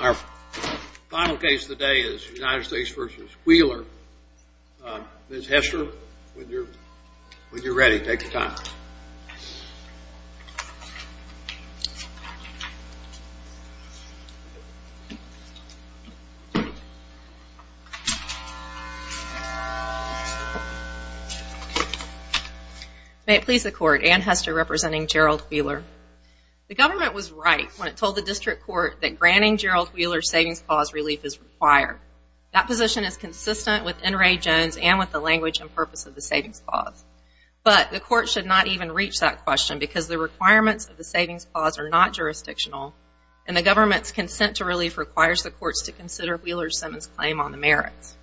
Our final case today is United States v. Wheeler. Ms. Hester, when you're ready, take your time. May it please the Court, Ann Hester representing Gerald Wheeler. The government was right when it told the district court that granting Gerald Wheeler's savings clause relief is required. That position is consistent with N. Ray Jones and with the language and purpose of the savings clause. But the court should not even reach that question because the requirements of the savings clause are not jurisdictional and the government's consent to relief requires the courts to consider Wheeler-Simmons' claim on the merits.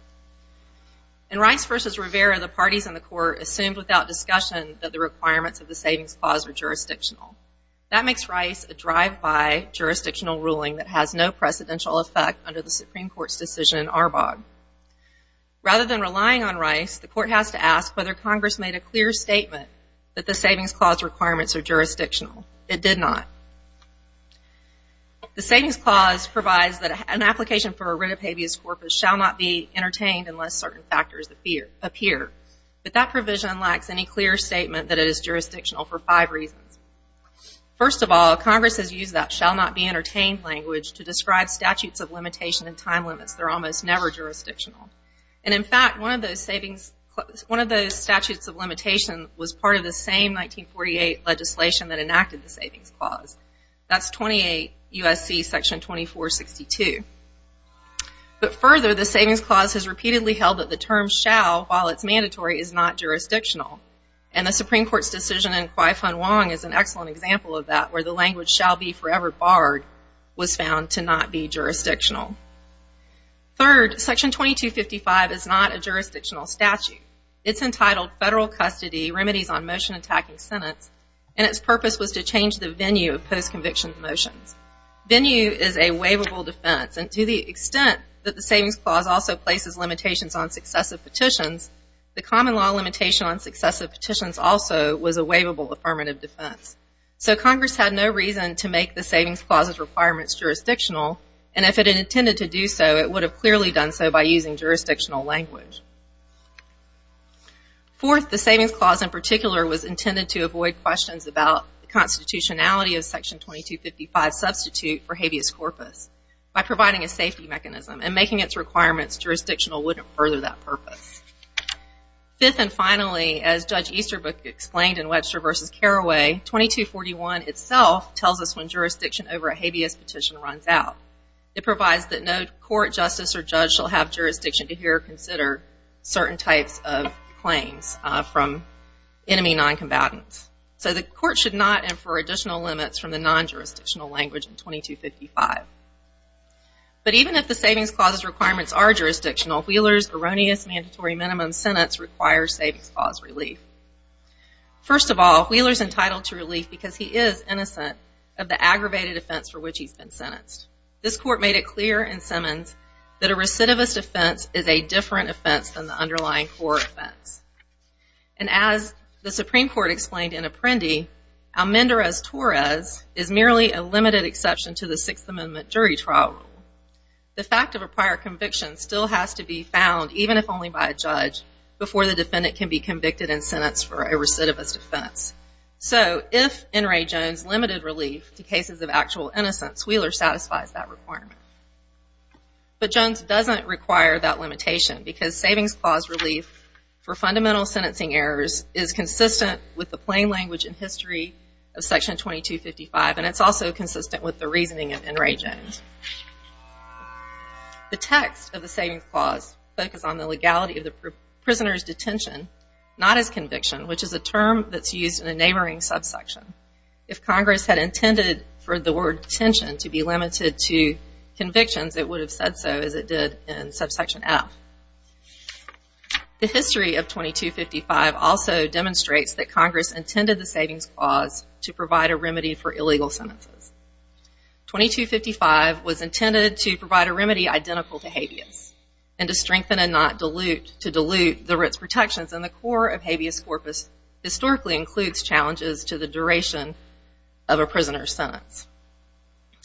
In Rice v. Rivera, the parties in the court assumed without discussion that the requirements of the savings clause are jurisdictional. That makes Rice a drive-by jurisdictional ruling that has no precedential effect under the Supreme Court's decision in Arbog. Rather than relying on Rice, the court has to ask whether Congress made a clear statement that the savings clause requirements are jurisdictional. It did not. The savings clause provides that an application for a writ of habeas corpus shall not be entertained unless certain factors appear. But that provision lacks any clear statement that it is jurisdictional for five reasons. First of all, Congress has used that shall not be entertained language to describe statutes of limitation and time limits. They're almost never jurisdictional. And in fact, one of those statutes of limitation was part of the same 1948 legislation that enacted the savings clause. That's 28 U.S.C. section 2462. But further, the savings clause has repeatedly held that the term shall, while it's mandatory, is not jurisdictional. And the Supreme Court's decision in Quy Phuong Hoang is an excellent example of that, where the language shall be forever barred was found to not be jurisdictional. Third, section 2255 is not a jurisdictional statute. It's entitled Federal Custody Remedies on Motion Attacking Sentence. And its purpose was to change the venue of post-conviction motions. Venue is a waivable defense. And to the extent that the savings clause also places limitations on successive petitions, the common law limitation on successive petitions also was a waivable affirmative defense. So Congress had no reason to make the savings clause's requirements jurisdictional. And if it intended to do so, it would have clearly done so by using jurisdictional language. Fourth, the savings clause in particular was intended to avoid questions about the constitutionality of section 2255's substitute for habeas corpus by providing a safety mechanism and making its requirements jurisdictional wouldn't further that purpose. Fifth and finally, as Judge Easterbrook explained in Webster v. Carraway, 2241 itself tells us when jurisdiction over a habeas petition runs out. It provides that no court, justice, or judge shall have jurisdiction to hear or consider certain types of claims from enemy noncombatants. So the court should not infer additional limits from the nonjurisdictional language in 2255. But even if the savings clause's requirements are jurisdictional, Wheeler's erroneous mandatory minimum sentence requires savings clause relief. First of all, Wheeler's entitled to relief because he is innocent of the aggravated offense for which he's been sentenced. This court made it clear in Simmons that a recidivist offense is a different offense than the underlying core offense. And as the Supreme Court explained in Apprendi, Almendarez-Torres is merely a limited exception to the Sixth Amendment jury trial rule. The fact of a prior conviction still has to be found, even if only by a judge, before the defendant can be convicted and sentenced for a recidivist offense. So if N. Ray Jones limited relief to cases of actual innocence, Wheeler satisfies that requirement. But Jones doesn't require that limitation because savings clause relief for fundamental sentencing errors is consistent with the plain language and history of Section 2255, and it's also consistent with the reasoning of N. Ray Jones. The text of the savings clause focused on the legality of the prisoner's detention, not his conviction, which is a term that's used in a neighboring subsection. If Congress had intended for the word detention to be limited to convictions, it would have said so, as it did in subsection F. The history of 2255 also demonstrates that Congress intended the savings clause to provide a remedy for illegal sentences. 2255 was intended to provide a remedy identical to habeas, and to strengthen and not dilute, to dilute the writ's protections in the core of habeas corpus historically includes challenges to the duration of a prisoner's sentence.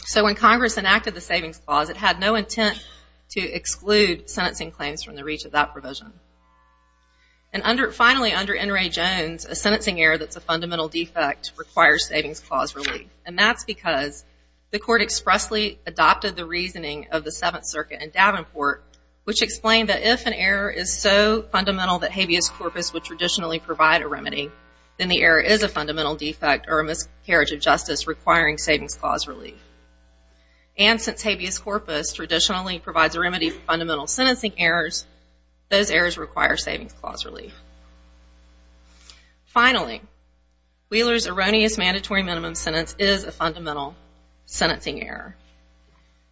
So when Congress enacted the savings clause, it had no intent to exclude sentencing claims from the reach of that provision. And finally, under N. Ray Jones, a sentencing error that's a fundamental defect requires savings clause relief, and that's because the Court expressly adopted the reasoning of the Seventh Circuit in Davenport, which explained that if an error is so fundamental that habeas corpus would traditionally provide a remedy, then the error is a fundamental defect or a miscarriage of justice requiring savings clause relief. And since habeas corpus traditionally provides a remedy for fundamental sentencing errors, those errors require savings clause relief. Finally, Wheeler's erroneous mandatory minimum sentence is a fundamental sentencing error.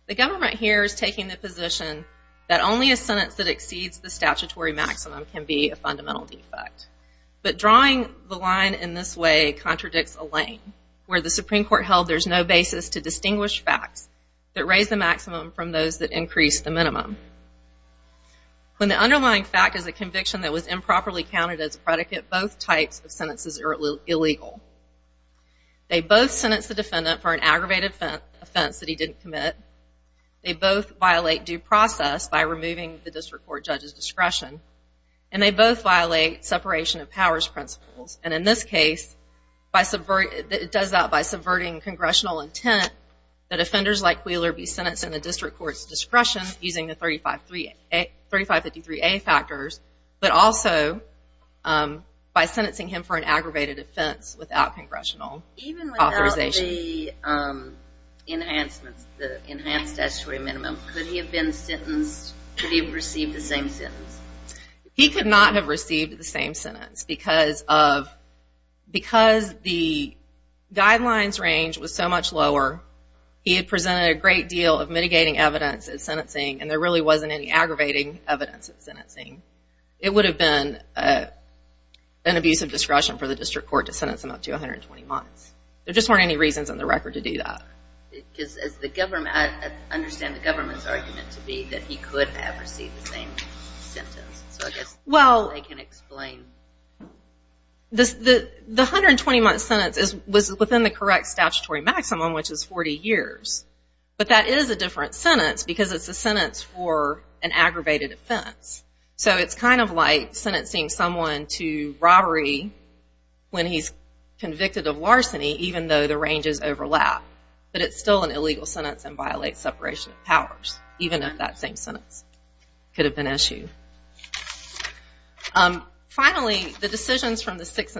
The government here is taking the position that only a sentence that exceeds the statutory maximum can be a fundamental defect. But drawing the line in this way contradicts Alain, where the Supreme Court held there's no basis to distinguish facts that raise the maximum from those that increase the minimum. When the underlying fact is a conviction that was improperly counted as a predicate, both types of sentences are illegal. They both sentence the defendant for an aggravated offense that he didn't commit. They both violate due process by removing the district court judge's discretion. And they both violate separation of powers principles. And in this case, it does that by subverting congressional intent that offenders like Wheeler be sentenced in the district court's discretion using the 3553A factors, but also by sentencing him for an aggravated offense without congressional authorization. Even without the enhancements, the enhanced statutory minimum, could he have been sentenced, could he have received the same sentence? He could not have received the same sentence because the guidelines range was so much lower. He had presented a great deal of mitigating evidence at sentencing, and there really wasn't any aggravating evidence at sentencing. It would have been an abuse of discretion for the district court to sentence him up to 120 months. There just weren't any reasons on the record to do that. I understand the government's argument to be that he could have received the same sentence. So I guess they can explain. The 120-month sentence was within the correct statutory maximum, which is 40 years. But that is a different sentence because it's a sentence for an aggravated offense. So it's kind of like sentencing someone to robbery when he's convicted of larceny, even though the ranges overlap. But it's still an illegal sentence and violates separation of powers, even if that same sentence could have been issued. Finally, the decisions from the Sixth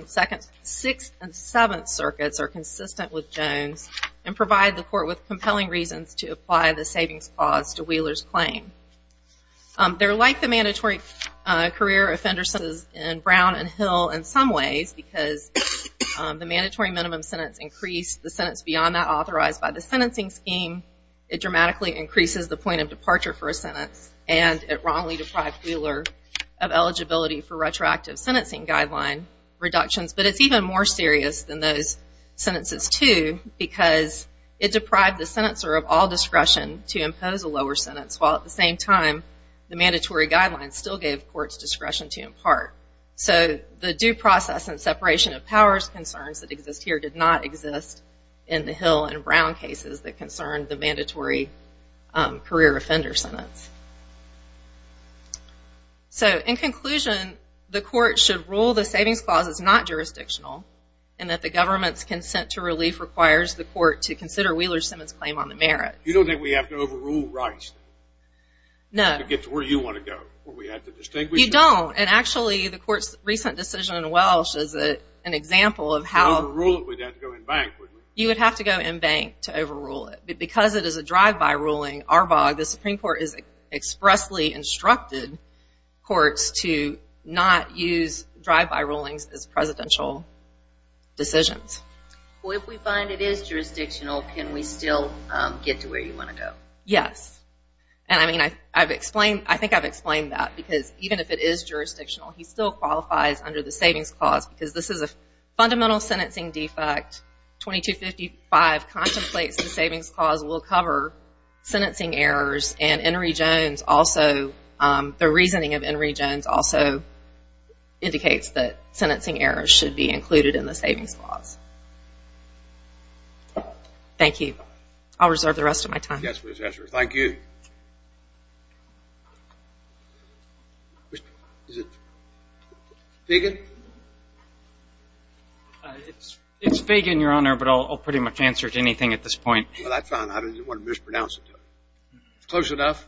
and Seventh Circuits are consistent with Jones and provide the court with compelling reasons to apply the savings clause to Wheeler's claim. They're like the mandatory career offender sentences in Brown and Hill in some ways because the mandatory minimum sentence increased the sentence beyond that authorized by the sentencing scheme. It dramatically increases the point of departure for a sentence, and it wrongly deprived Wheeler of eligibility for retroactive sentencing guideline reductions. But it's even more serious than those sentences, too, because it deprived the sentencer of all discretion to impose a lower sentence, while at the same time the mandatory guidelines still gave courts discretion to impart. So the due process and separation of powers concerns that exist here did not exist in the Hill and Brown cases that concerned the mandatory career offender sentence. So in conclusion, the court should rule the savings clause is not jurisdictional and that the government's consent to relief requires the court to consider Wheeler Simmons' claim on the merits. You don't think we have to overrule rights to get to where you want to go? You don't, and actually the court's recent decision in Welsh is an example of how- If we overrule it, we'd have to go in bank, wouldn't we? You would have to go in bank to overrule it. But because it is a drive-by ruling, ARBOG, the Supreme Court has expressly instructed courts to not use drive-by rulings as presidential decisions. Well, if we find it is jurisdictional, can we still get to where you want to go? Yes, and I think I've explained that because even if it is jurisdictional, he still qualifies under the savings clause because this is a fundamental sentencing defect. 2255 contemplates the savings clause will cover sentencing errors, and the reasoning of Henry Jones also indicates that sentencing errors should be included in the savings clause. Thank you. I'll reserve the rest of my time. Thank you. Is it Fagan? It's Fagan, Your Honor, but I'll pretty much answer to anything at this point. Well, that's fine. I didn't want to mispronounce it. Close enough?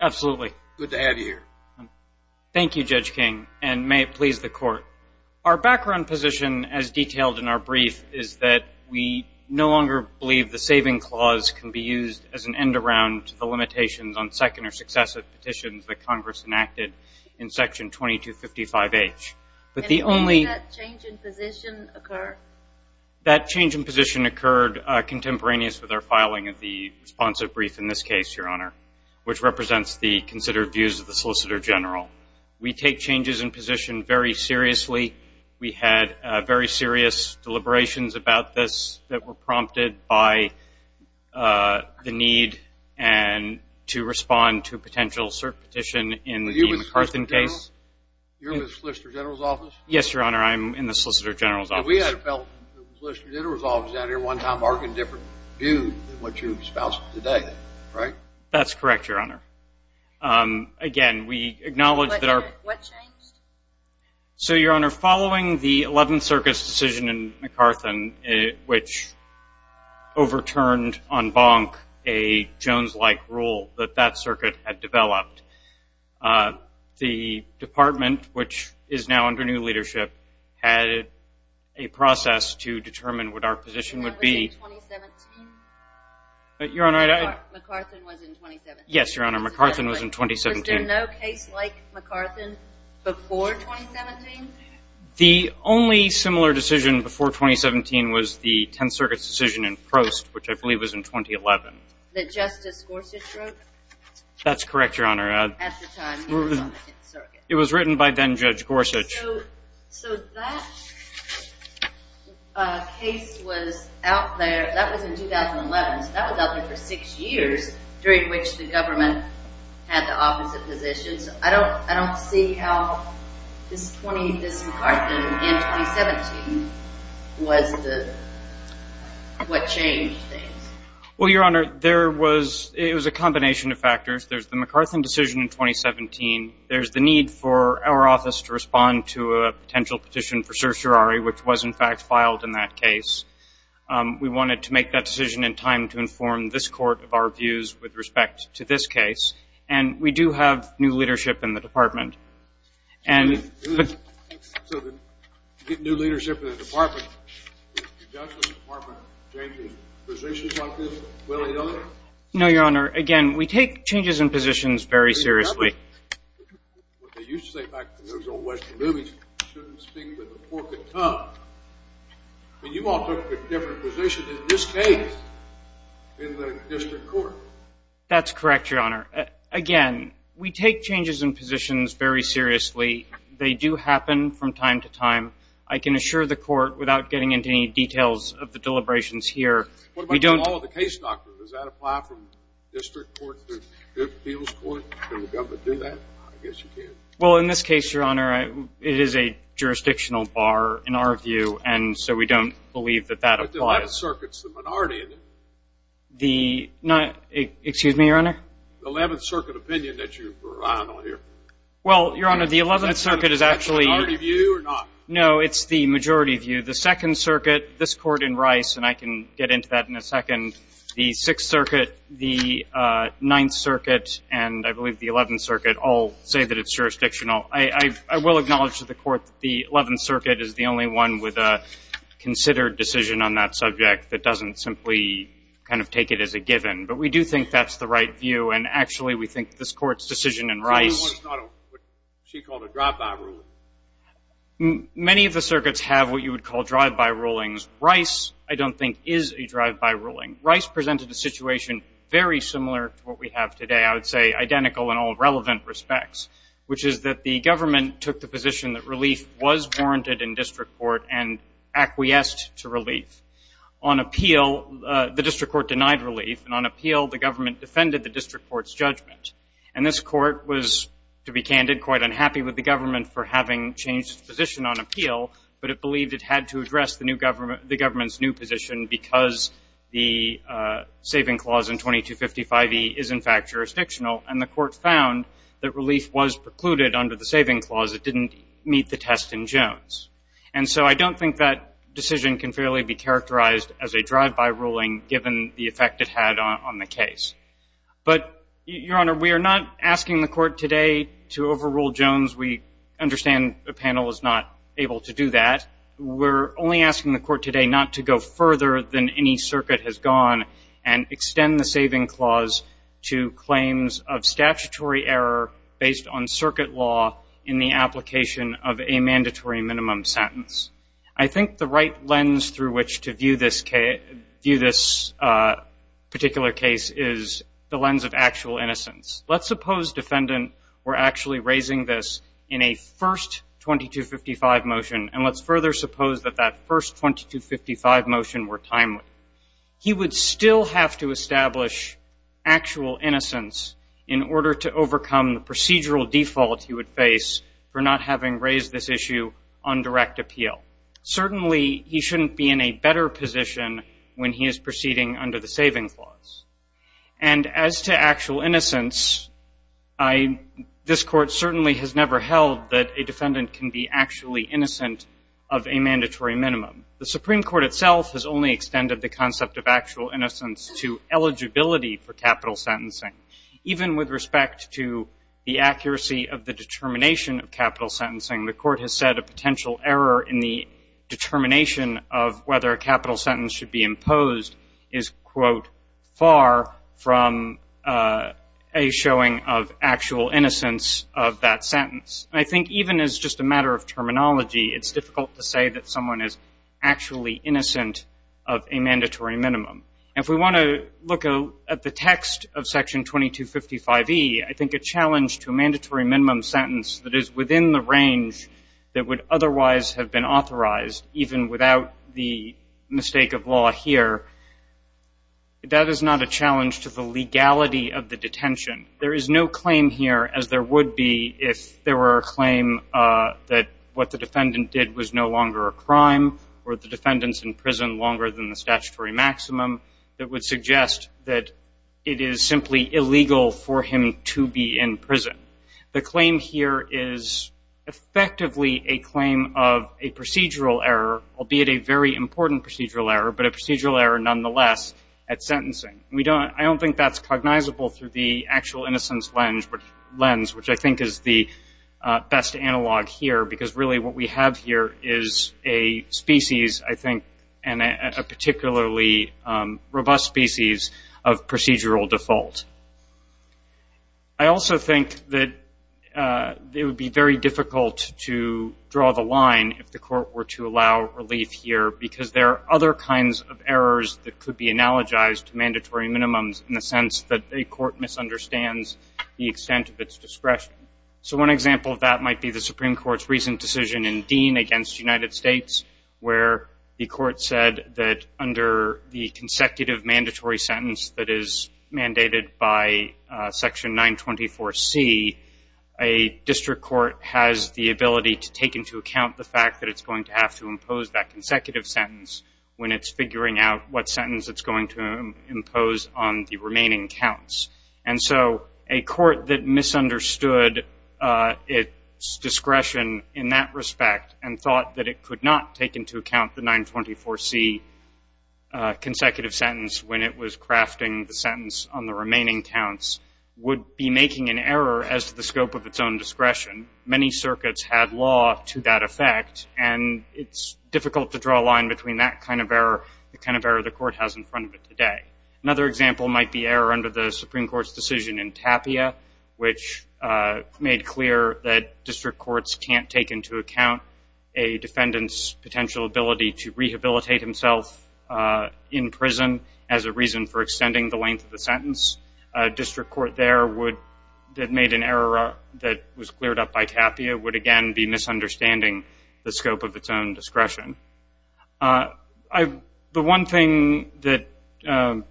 Absolutely. Good to have you here. Thank you, Judge King, and may it please the Court. Our background position, as detailed in our brief, is that we no longer believe the saving clause can be used as an end-around to the limitations on second or successive petitions that Congress enacted in Section 2255H. And when did that change in position occur? That change in position occurred contemporaneous with our filing of the responsive brief, in this case, Your Honor, which represents the considered views of the Solicitor General. We take changes in position very seriously. We had very serious deliberations about this that were prompted by the need and to respond to a potential cert petition in the McCarthan case. Are you with the Solicitor General? You're with the Solicitor General's office? Yes, Your Honor, I'm in the Solicitor General's office. We had a fellow from the Solicitor General's office out here one time arguing a different view than what you're espousing today, right? That's correct, Your Honor. Again, we acknowledge that our- What changed? So, Your Honor, following the Eleventh Circuit's decision in McCarthan, which overturned en banc a Jones-like rule that that circuit had developed, the department, which is now under new leadership, had a process to determine what our position would be. And that was in 2017? Your Honor, I- McCarthan was in 2017. Yes, Your Honor, McCarthan was in 2017. Was there no case like McCarthan before 2017? The only similar decision before 2017 was the Tenth Circuit's decision in Prost, which I believe was in 2011. That Justice Gorsuch wrote? That's correct, Your Honor. At the time, he was on the Tenth Circuit. It was written by then-Judge Gorsuch. So that case was out there-that was in 2011. So that was out there for six years, during which the government had the opposite positions. I don't see how this McCarthan in 2017 was the-what changed things. Well, Your Honor, there was-it was a combination of factors. There's the McCarthan decision in 2017. There's the need for our office to respond to a potential petition for certiorari, which was, in fact, filed in that case. We wanted to make that decision in time to inform this court of our views with respect to this case. And we do have new leadership in the department. So you get new leadership in the department. Is the Justice Department changing positions on this? Will they, though? No, Your Honor. Again, we take changes in positions very seriously. What they used to say back in those old Western movies, you shouldn't speak with the pork in a tub. But you all took a different position in this case in the district court. That's correct, Your Honor. Again, we take changes in positions very seriously. They do happen from time to time. I can assure the court, without getting into any details of the deliberations here, we don't- What about the law of the case doctrine? Does that apply from district court to appeals court? Can the government do that? I guess you can. Well, in this case, Your Honor, it is a jurisdictional bar in our view, and so we don't believe that that applies. But the 11th Circuit's the minority, isn't it? The-excuse me, Your Honor? The 11th Circuit opinion that you were eyeing on here. Well, Your Honor, the 11th Circuit is actually- Is that the minority view or not? No, it's the majority view. The 2nd Circuit, this court in Rice, and I can get into that in a second, the 6th Circuit, the 9th Circuit, and I believe the 11th Circuit all say that it's jurisdictional. I will acknowledge to the court that the 11th Circuit is the only one with a considered decision on that subject that doesn't simply kind of take it as a given. But we do think that's the right view, and actually we think this court's decision in Rice- She called a drive-by ruling. Many of the circuits have what you would call drive-by rulings. Rice, I don't think, is a drive-by ruling. Rice presented a situation very similar to what we have today, I would say identical in all relevant respects, which is that the government took the position that relief was warranted in district court and acquiesced to relief. On appeal, the district court denied relief, and on appeal, the government defended the district court's judgment. And this court was, to be candid, quite unhappy with the government for having changed its position on appeal, but it believed it had to address the government's new position because the saving clause in 2255E is, in fact, jurisdictional, and the court found that relief was precluded under the saving clause. It didn't meet the test in Jones. And so I don't think that decision can fairly be characterized as a drive-by ruling, given the effect it had on the case. But, Your Honor, we are not asking the court today to overrule Jones. We understand the panel is not able to do that. We're only asking the court today not to go further than any circuit has gone and extend the saving clause to claims of statutory error based on circuit law in the application of a mandatory minimum sentence. I think the right lens through which to view this particular case is the lens of actual innocence. Let's suppose defendant were actually raising this in a first 2255 motion, and let's further suppose that that first 2255 motion were timely. He would still have to establish actual innocence in order to overcome the procedural default he would face for not having raised this issue on direct appeal. Certainly, he shouldn't be in a better position when he is proceeding under the saving clause. And as to actual innocence, this Court certainly has never held that a defendant can be actually innocent of a mandatory minimum. The Supreme Court itself has only extended the concept of actual innocence to eligibility for capital sentencing. Even with respect to the accuracy of the determination of capital sentencing, the Court has said a potential error in the determination of whether a capital sentence should be imposed is, quote, far from a showing of actual innocence of that sentence. I think even as just a matter of terminology, it's difficult to say that someone is actually innocent of a mandatory minimum. If we want to look at the text of Section 2255e, I think a challenge to a mandatory minimum sentence that is within the range that would otherwise have been authorized, even without the mistake of law here, that is not a challenge to the legality of the detention. There is no claim here, as there would be if there were a claim that what the defendant did was no longer a crime or the defendant's in prison longer than the statutory maximum, that would suggest that it is simply illegal for him to be in prison. The claim here is effectively a claim of a procedural error, albeit a very important procedural error, but a procedural error nonetheless at sentencing. I don't think that's cognizable through the actual innocence lens, which I think is the best analog here, because really what we have here is a species, I think, and a particularly robust species of procedural default. I also think that it would be very difficult to draw the line if the court were to allow relief here, because there are other kinds of errors that could be analogized to mandatory minimums in the sense that a court misunderstands the extent of its discretion. So one example of that might be the Supreme Court's recent decision in Dean against the United States, where the court said that under the consecutive mandatory sentence that is mandated by Section 924C, a district court has the ability to take into account the fact that it's going to have to impose that consecutive sentence when it's figuring out what sentence it's going to impose on the remaining counts. And so a court that misunderstood its discretion in that respect and thought that it could not take into account the 924C consecutive sentence when it was crafting the sentence on the remaining counts would be making an error as to the scope of its own discretion. Many circuits had law to that effect, and it's difficult to draw a line between that kind of error and the kind of error the court has in front of it today. Another example might be error under the Supreme Court's decision in Tapia, which made clear that district courts can't take into account a defendant's potential ability to rehabilitate himself in prison as a reason for extending the length of the sentence. A district court there that made an error that was cleared up by Tapia would again be misunderstanding the scope of its own discretion. The one thing that the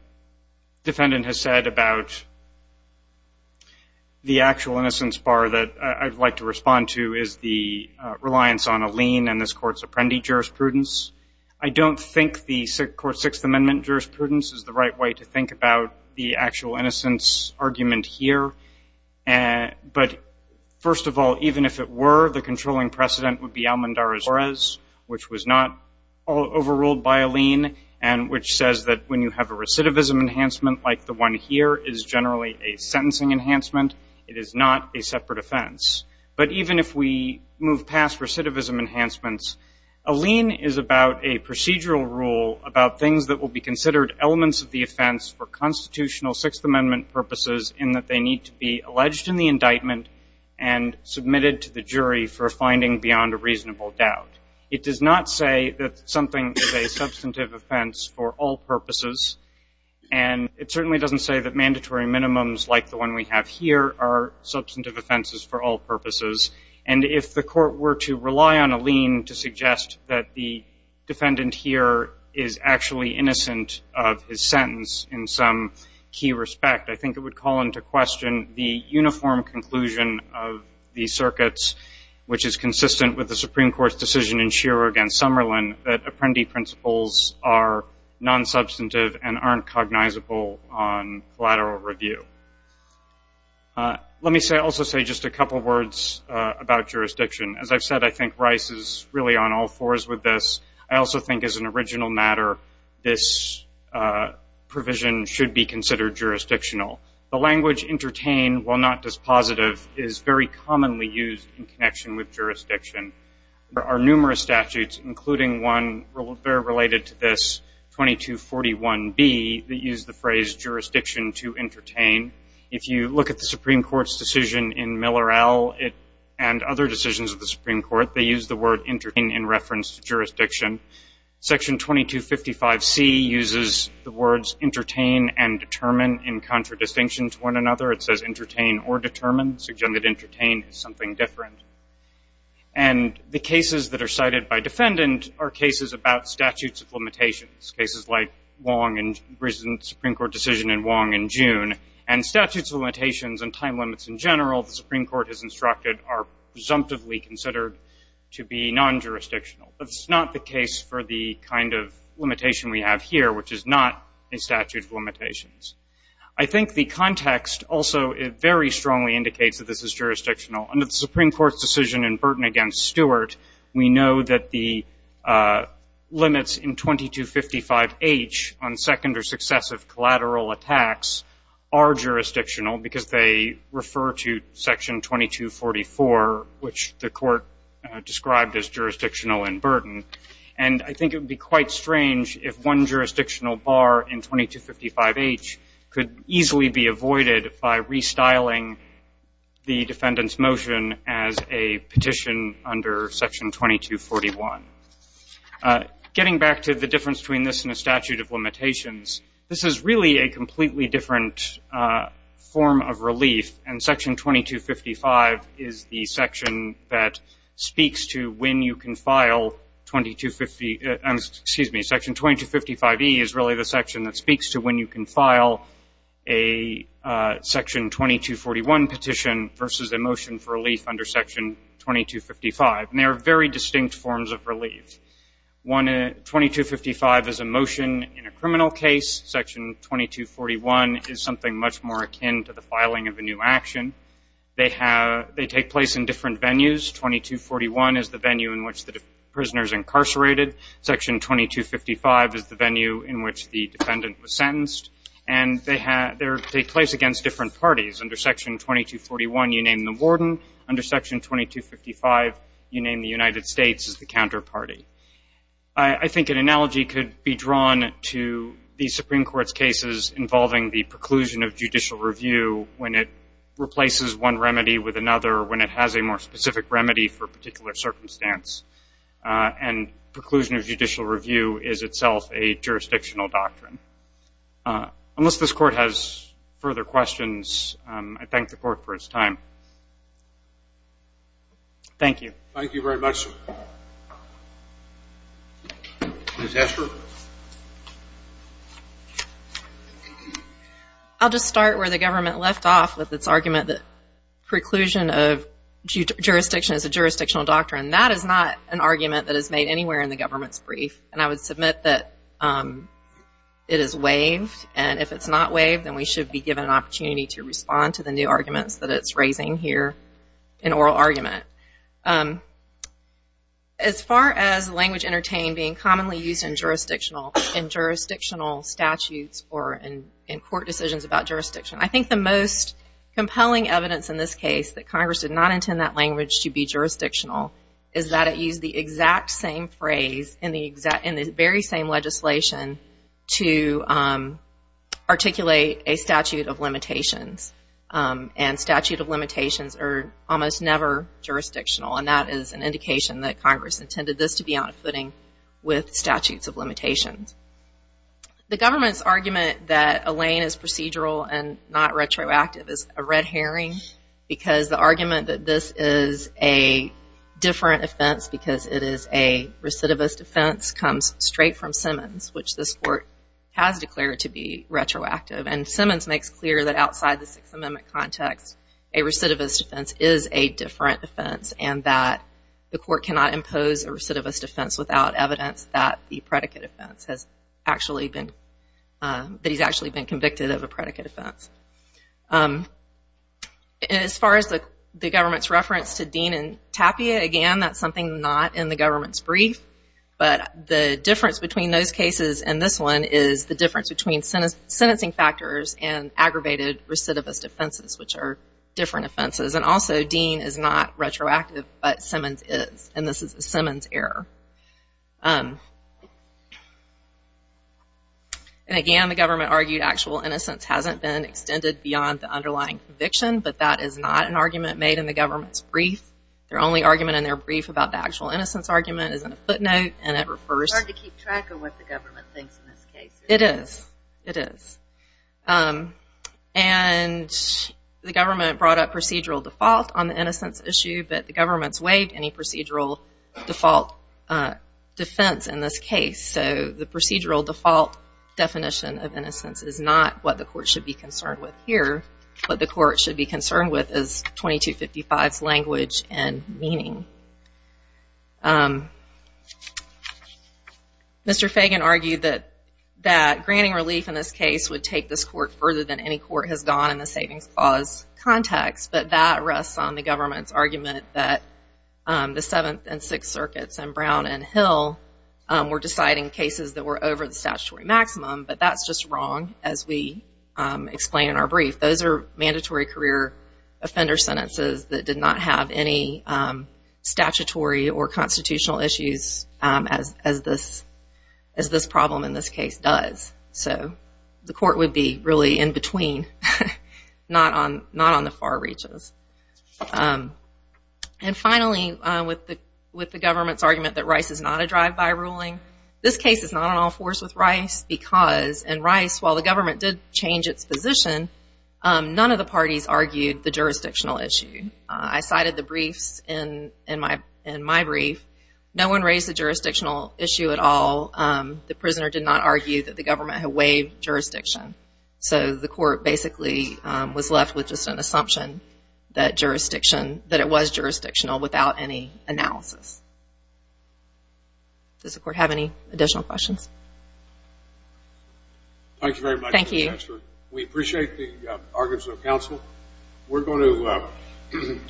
defendant has said about the actual innocence bar that I'd like to respond to is the reliance on a lien and this Court's Apprendi jurisprudence. I don't think the Court's Sixth Amendment jurisprudence is the right way to think about the actual innocence argument here. But first of all, even if it were, the controlling precedent would be Almandar Azores, which was not overruled by a lien and which says that when you have a recidivism enhancement like the one here is generally a sentencing enhancement. It is not a separate offense. But even if we move past recidivism enhancements, a lien is about a procedural rule about things that will be considered elements of the offense for constitutional Sixth Amendment purposes in that they need to be alleged in the indictment and submitted to the jury for a finding beyond a reasonable doubt. It does not say that something is a substantive offense for all purposes. And it certainly doesn't say that mandatory minimums like the one we have here are substantive offenses for all purposes. And if the Court were to rely on a lien to suggest that the defendant here is actually innocent of his sentence in some key respect, I think it would call into question the uniform conclusion of the circuits, which is consistent with the Supreme Court's decision in Shearer against Summerlin, that apprendee principles are nonsubstantive and aren't cognizable on collateral review. Let me also say just a couple words about jurisdiction. As I've said, I think Rice is really on all fours with this. I also think as an original matter, this provision should be considered jurisdictional. The language entertain while not dispositive is very commonly used in connection with jurisdiction. There are numerous statutes, including one very related to this, 2241B, that use the phrase jurisdiction to entertain. If you look at the Supreme Court's decision in Miller-El and other decisions of the Supreme Court, they use the word entertain in reference to jurisdiction. Section 2255C uses the words entertain and determine in contradistinction to one another. It says entertain or determine. Suggested entertain is something different. And the cases that are cited by defendant are cases about statutes of limitations, cases like Wong and the Supreme Court decision in Wong in June. And statutes of limitations and time limits in general, the Supreme Court has instructed, are presumptively considered to be non-jurisdictional. That's not the case for the kind of limitation we have here, which is not a statute of limitations. I think the context also very strongly indicates that this is jurisdictional. Under the Supreme Court's decision in Burton v. Stewart, we know that the limits in 2255H on second or successive collateral attacks are jurisdictional because they refer to Section 2244, which the court described as jurisdictional in Burton. And I think it would be quite strange if one jurisdictional bar in 2255H could easily be avoided by restyling the defendant's motion as a petition under Section 2241. Getting back to the difference between this and a statute of limitations, this is really a completely different form of relief. And Section 2255 is the section that speaks to when you can file 2250 ‑‑ excuse me, Section 2255E is really the section that speaks to when you can file a Section 2241 petition versus a motion for relief under Section 2255. And they are very distinct forms of relief. 2255 is a motion in a criminal case. Section 2241 is something much more akin to the filing of a new action. They take place in different venues. 2241 is the venue in which the prisoner is incarcerated. Section 2255 is the venue in which the defendant was sentenced. And they take place against different parties. Under Section 2241, you name the warden. Under Section 2255, you name the United States as the counterparty. I think an analogy could be drawn to the Supreme Court's cases involving the preclusion of judicial review when it replaces one remedy with another or when it has a more specific remedy for a particular circumstance. And preclusion of judicial review is itself a jurisdictional doctrine. Unless this Court has further questions, I thank the Court for its time. Thank you. Thank you very much, sir. Ms. Escher. I'll just start where the government left off with its argument that preclusion of jurisdiction is a jurisdictional doctrine. That is not an argument that is made anywhere in the government's brief. And I would submit that it is waived. And if it's not waived, then we should be given an opportunity to respond to the new arguments that it's raising here in oral argument. As far as language entertained being commonly used in jurisdictional statutes or in court decisions about jurisdiction, I think the most compelling evidence in this case that Congress did not intend that language to be jurisdictional is that it used the exact same phrase in the very same legislation to articulate a statute of limitations. And statute of limitations are almost never jurisdictional. And that is an indication that Congress intended this to be on a footing with statutes of limitations. The government's argument that a lane is procedural and not retroactive is a red herring because the argument that this is a different offense because it is a recidivist offense comes straight from Simmons, which this court has declared to be retroactive. And Simmons makes clear that outside the Sixth Amendment context, a recidivist offense is a different offense and that the court cannot impose a recidivist offense without evidence that the predicate offense has actually been, that he's actually been convicted of a predicate offense. As far as the government's reference to Dean and Tapia, again that's something not in the government's brief, but the difference between those cases and this one is the difference between sentencing factors and aggravated recidivist offenses, which are different offenses. And also Dean is not retroactive, but Simmons is. And this is a Simmons error. And again, the government argued actual innocence hasn't been extended beyond the underlying conviction, but that is not an argument made in the government's brief. Their only argument in their brief about the actual innocence argument is in a footnote, and it refers to... It's hard to keep track of what the government thinks in this case. It is. It is. And the government brought up procedural default on the innocence issue, but the government's waived any procedural default defense in this case. So the procedural default definition of innocence is not what the court should be concerned with here. What the court should be concerned with is 2255's language and meaning. Mr. Fagan argued that granting relief in this case would take this court further than any court has done in the savings clause context, but that rests on the government's argument that the Seventh and Sixth Circuits and Brown and Hill were deciding cases that were over the statutory maximum, but that's just wrong as we explain in our brief. Those are mandatory career offender sentences that did not have any statutory or constitutional issues as this problem in this case does. So the court would be really in between, not on the far reaches. And finally, with the government's argument that Rice is not a drive-by ruling, this case is not an all-force with Rice because in Rice, while the government did change its position, none of the parties argued the jurisdictional issue. I cited the briefs in my brief. No one raised the jurisdictional issue at all. The prisoner did not argue that the government had waived jurisdiction. So the court basically was left with just an assumption that it was jurisdictional without any analysis. Does the court have any additional questions? Thank you very much. Thank you. We appreciate the arguments of counsel. We're going to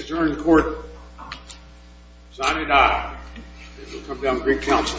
adjourn the court. Sign it out. It will come down to Greek counsel.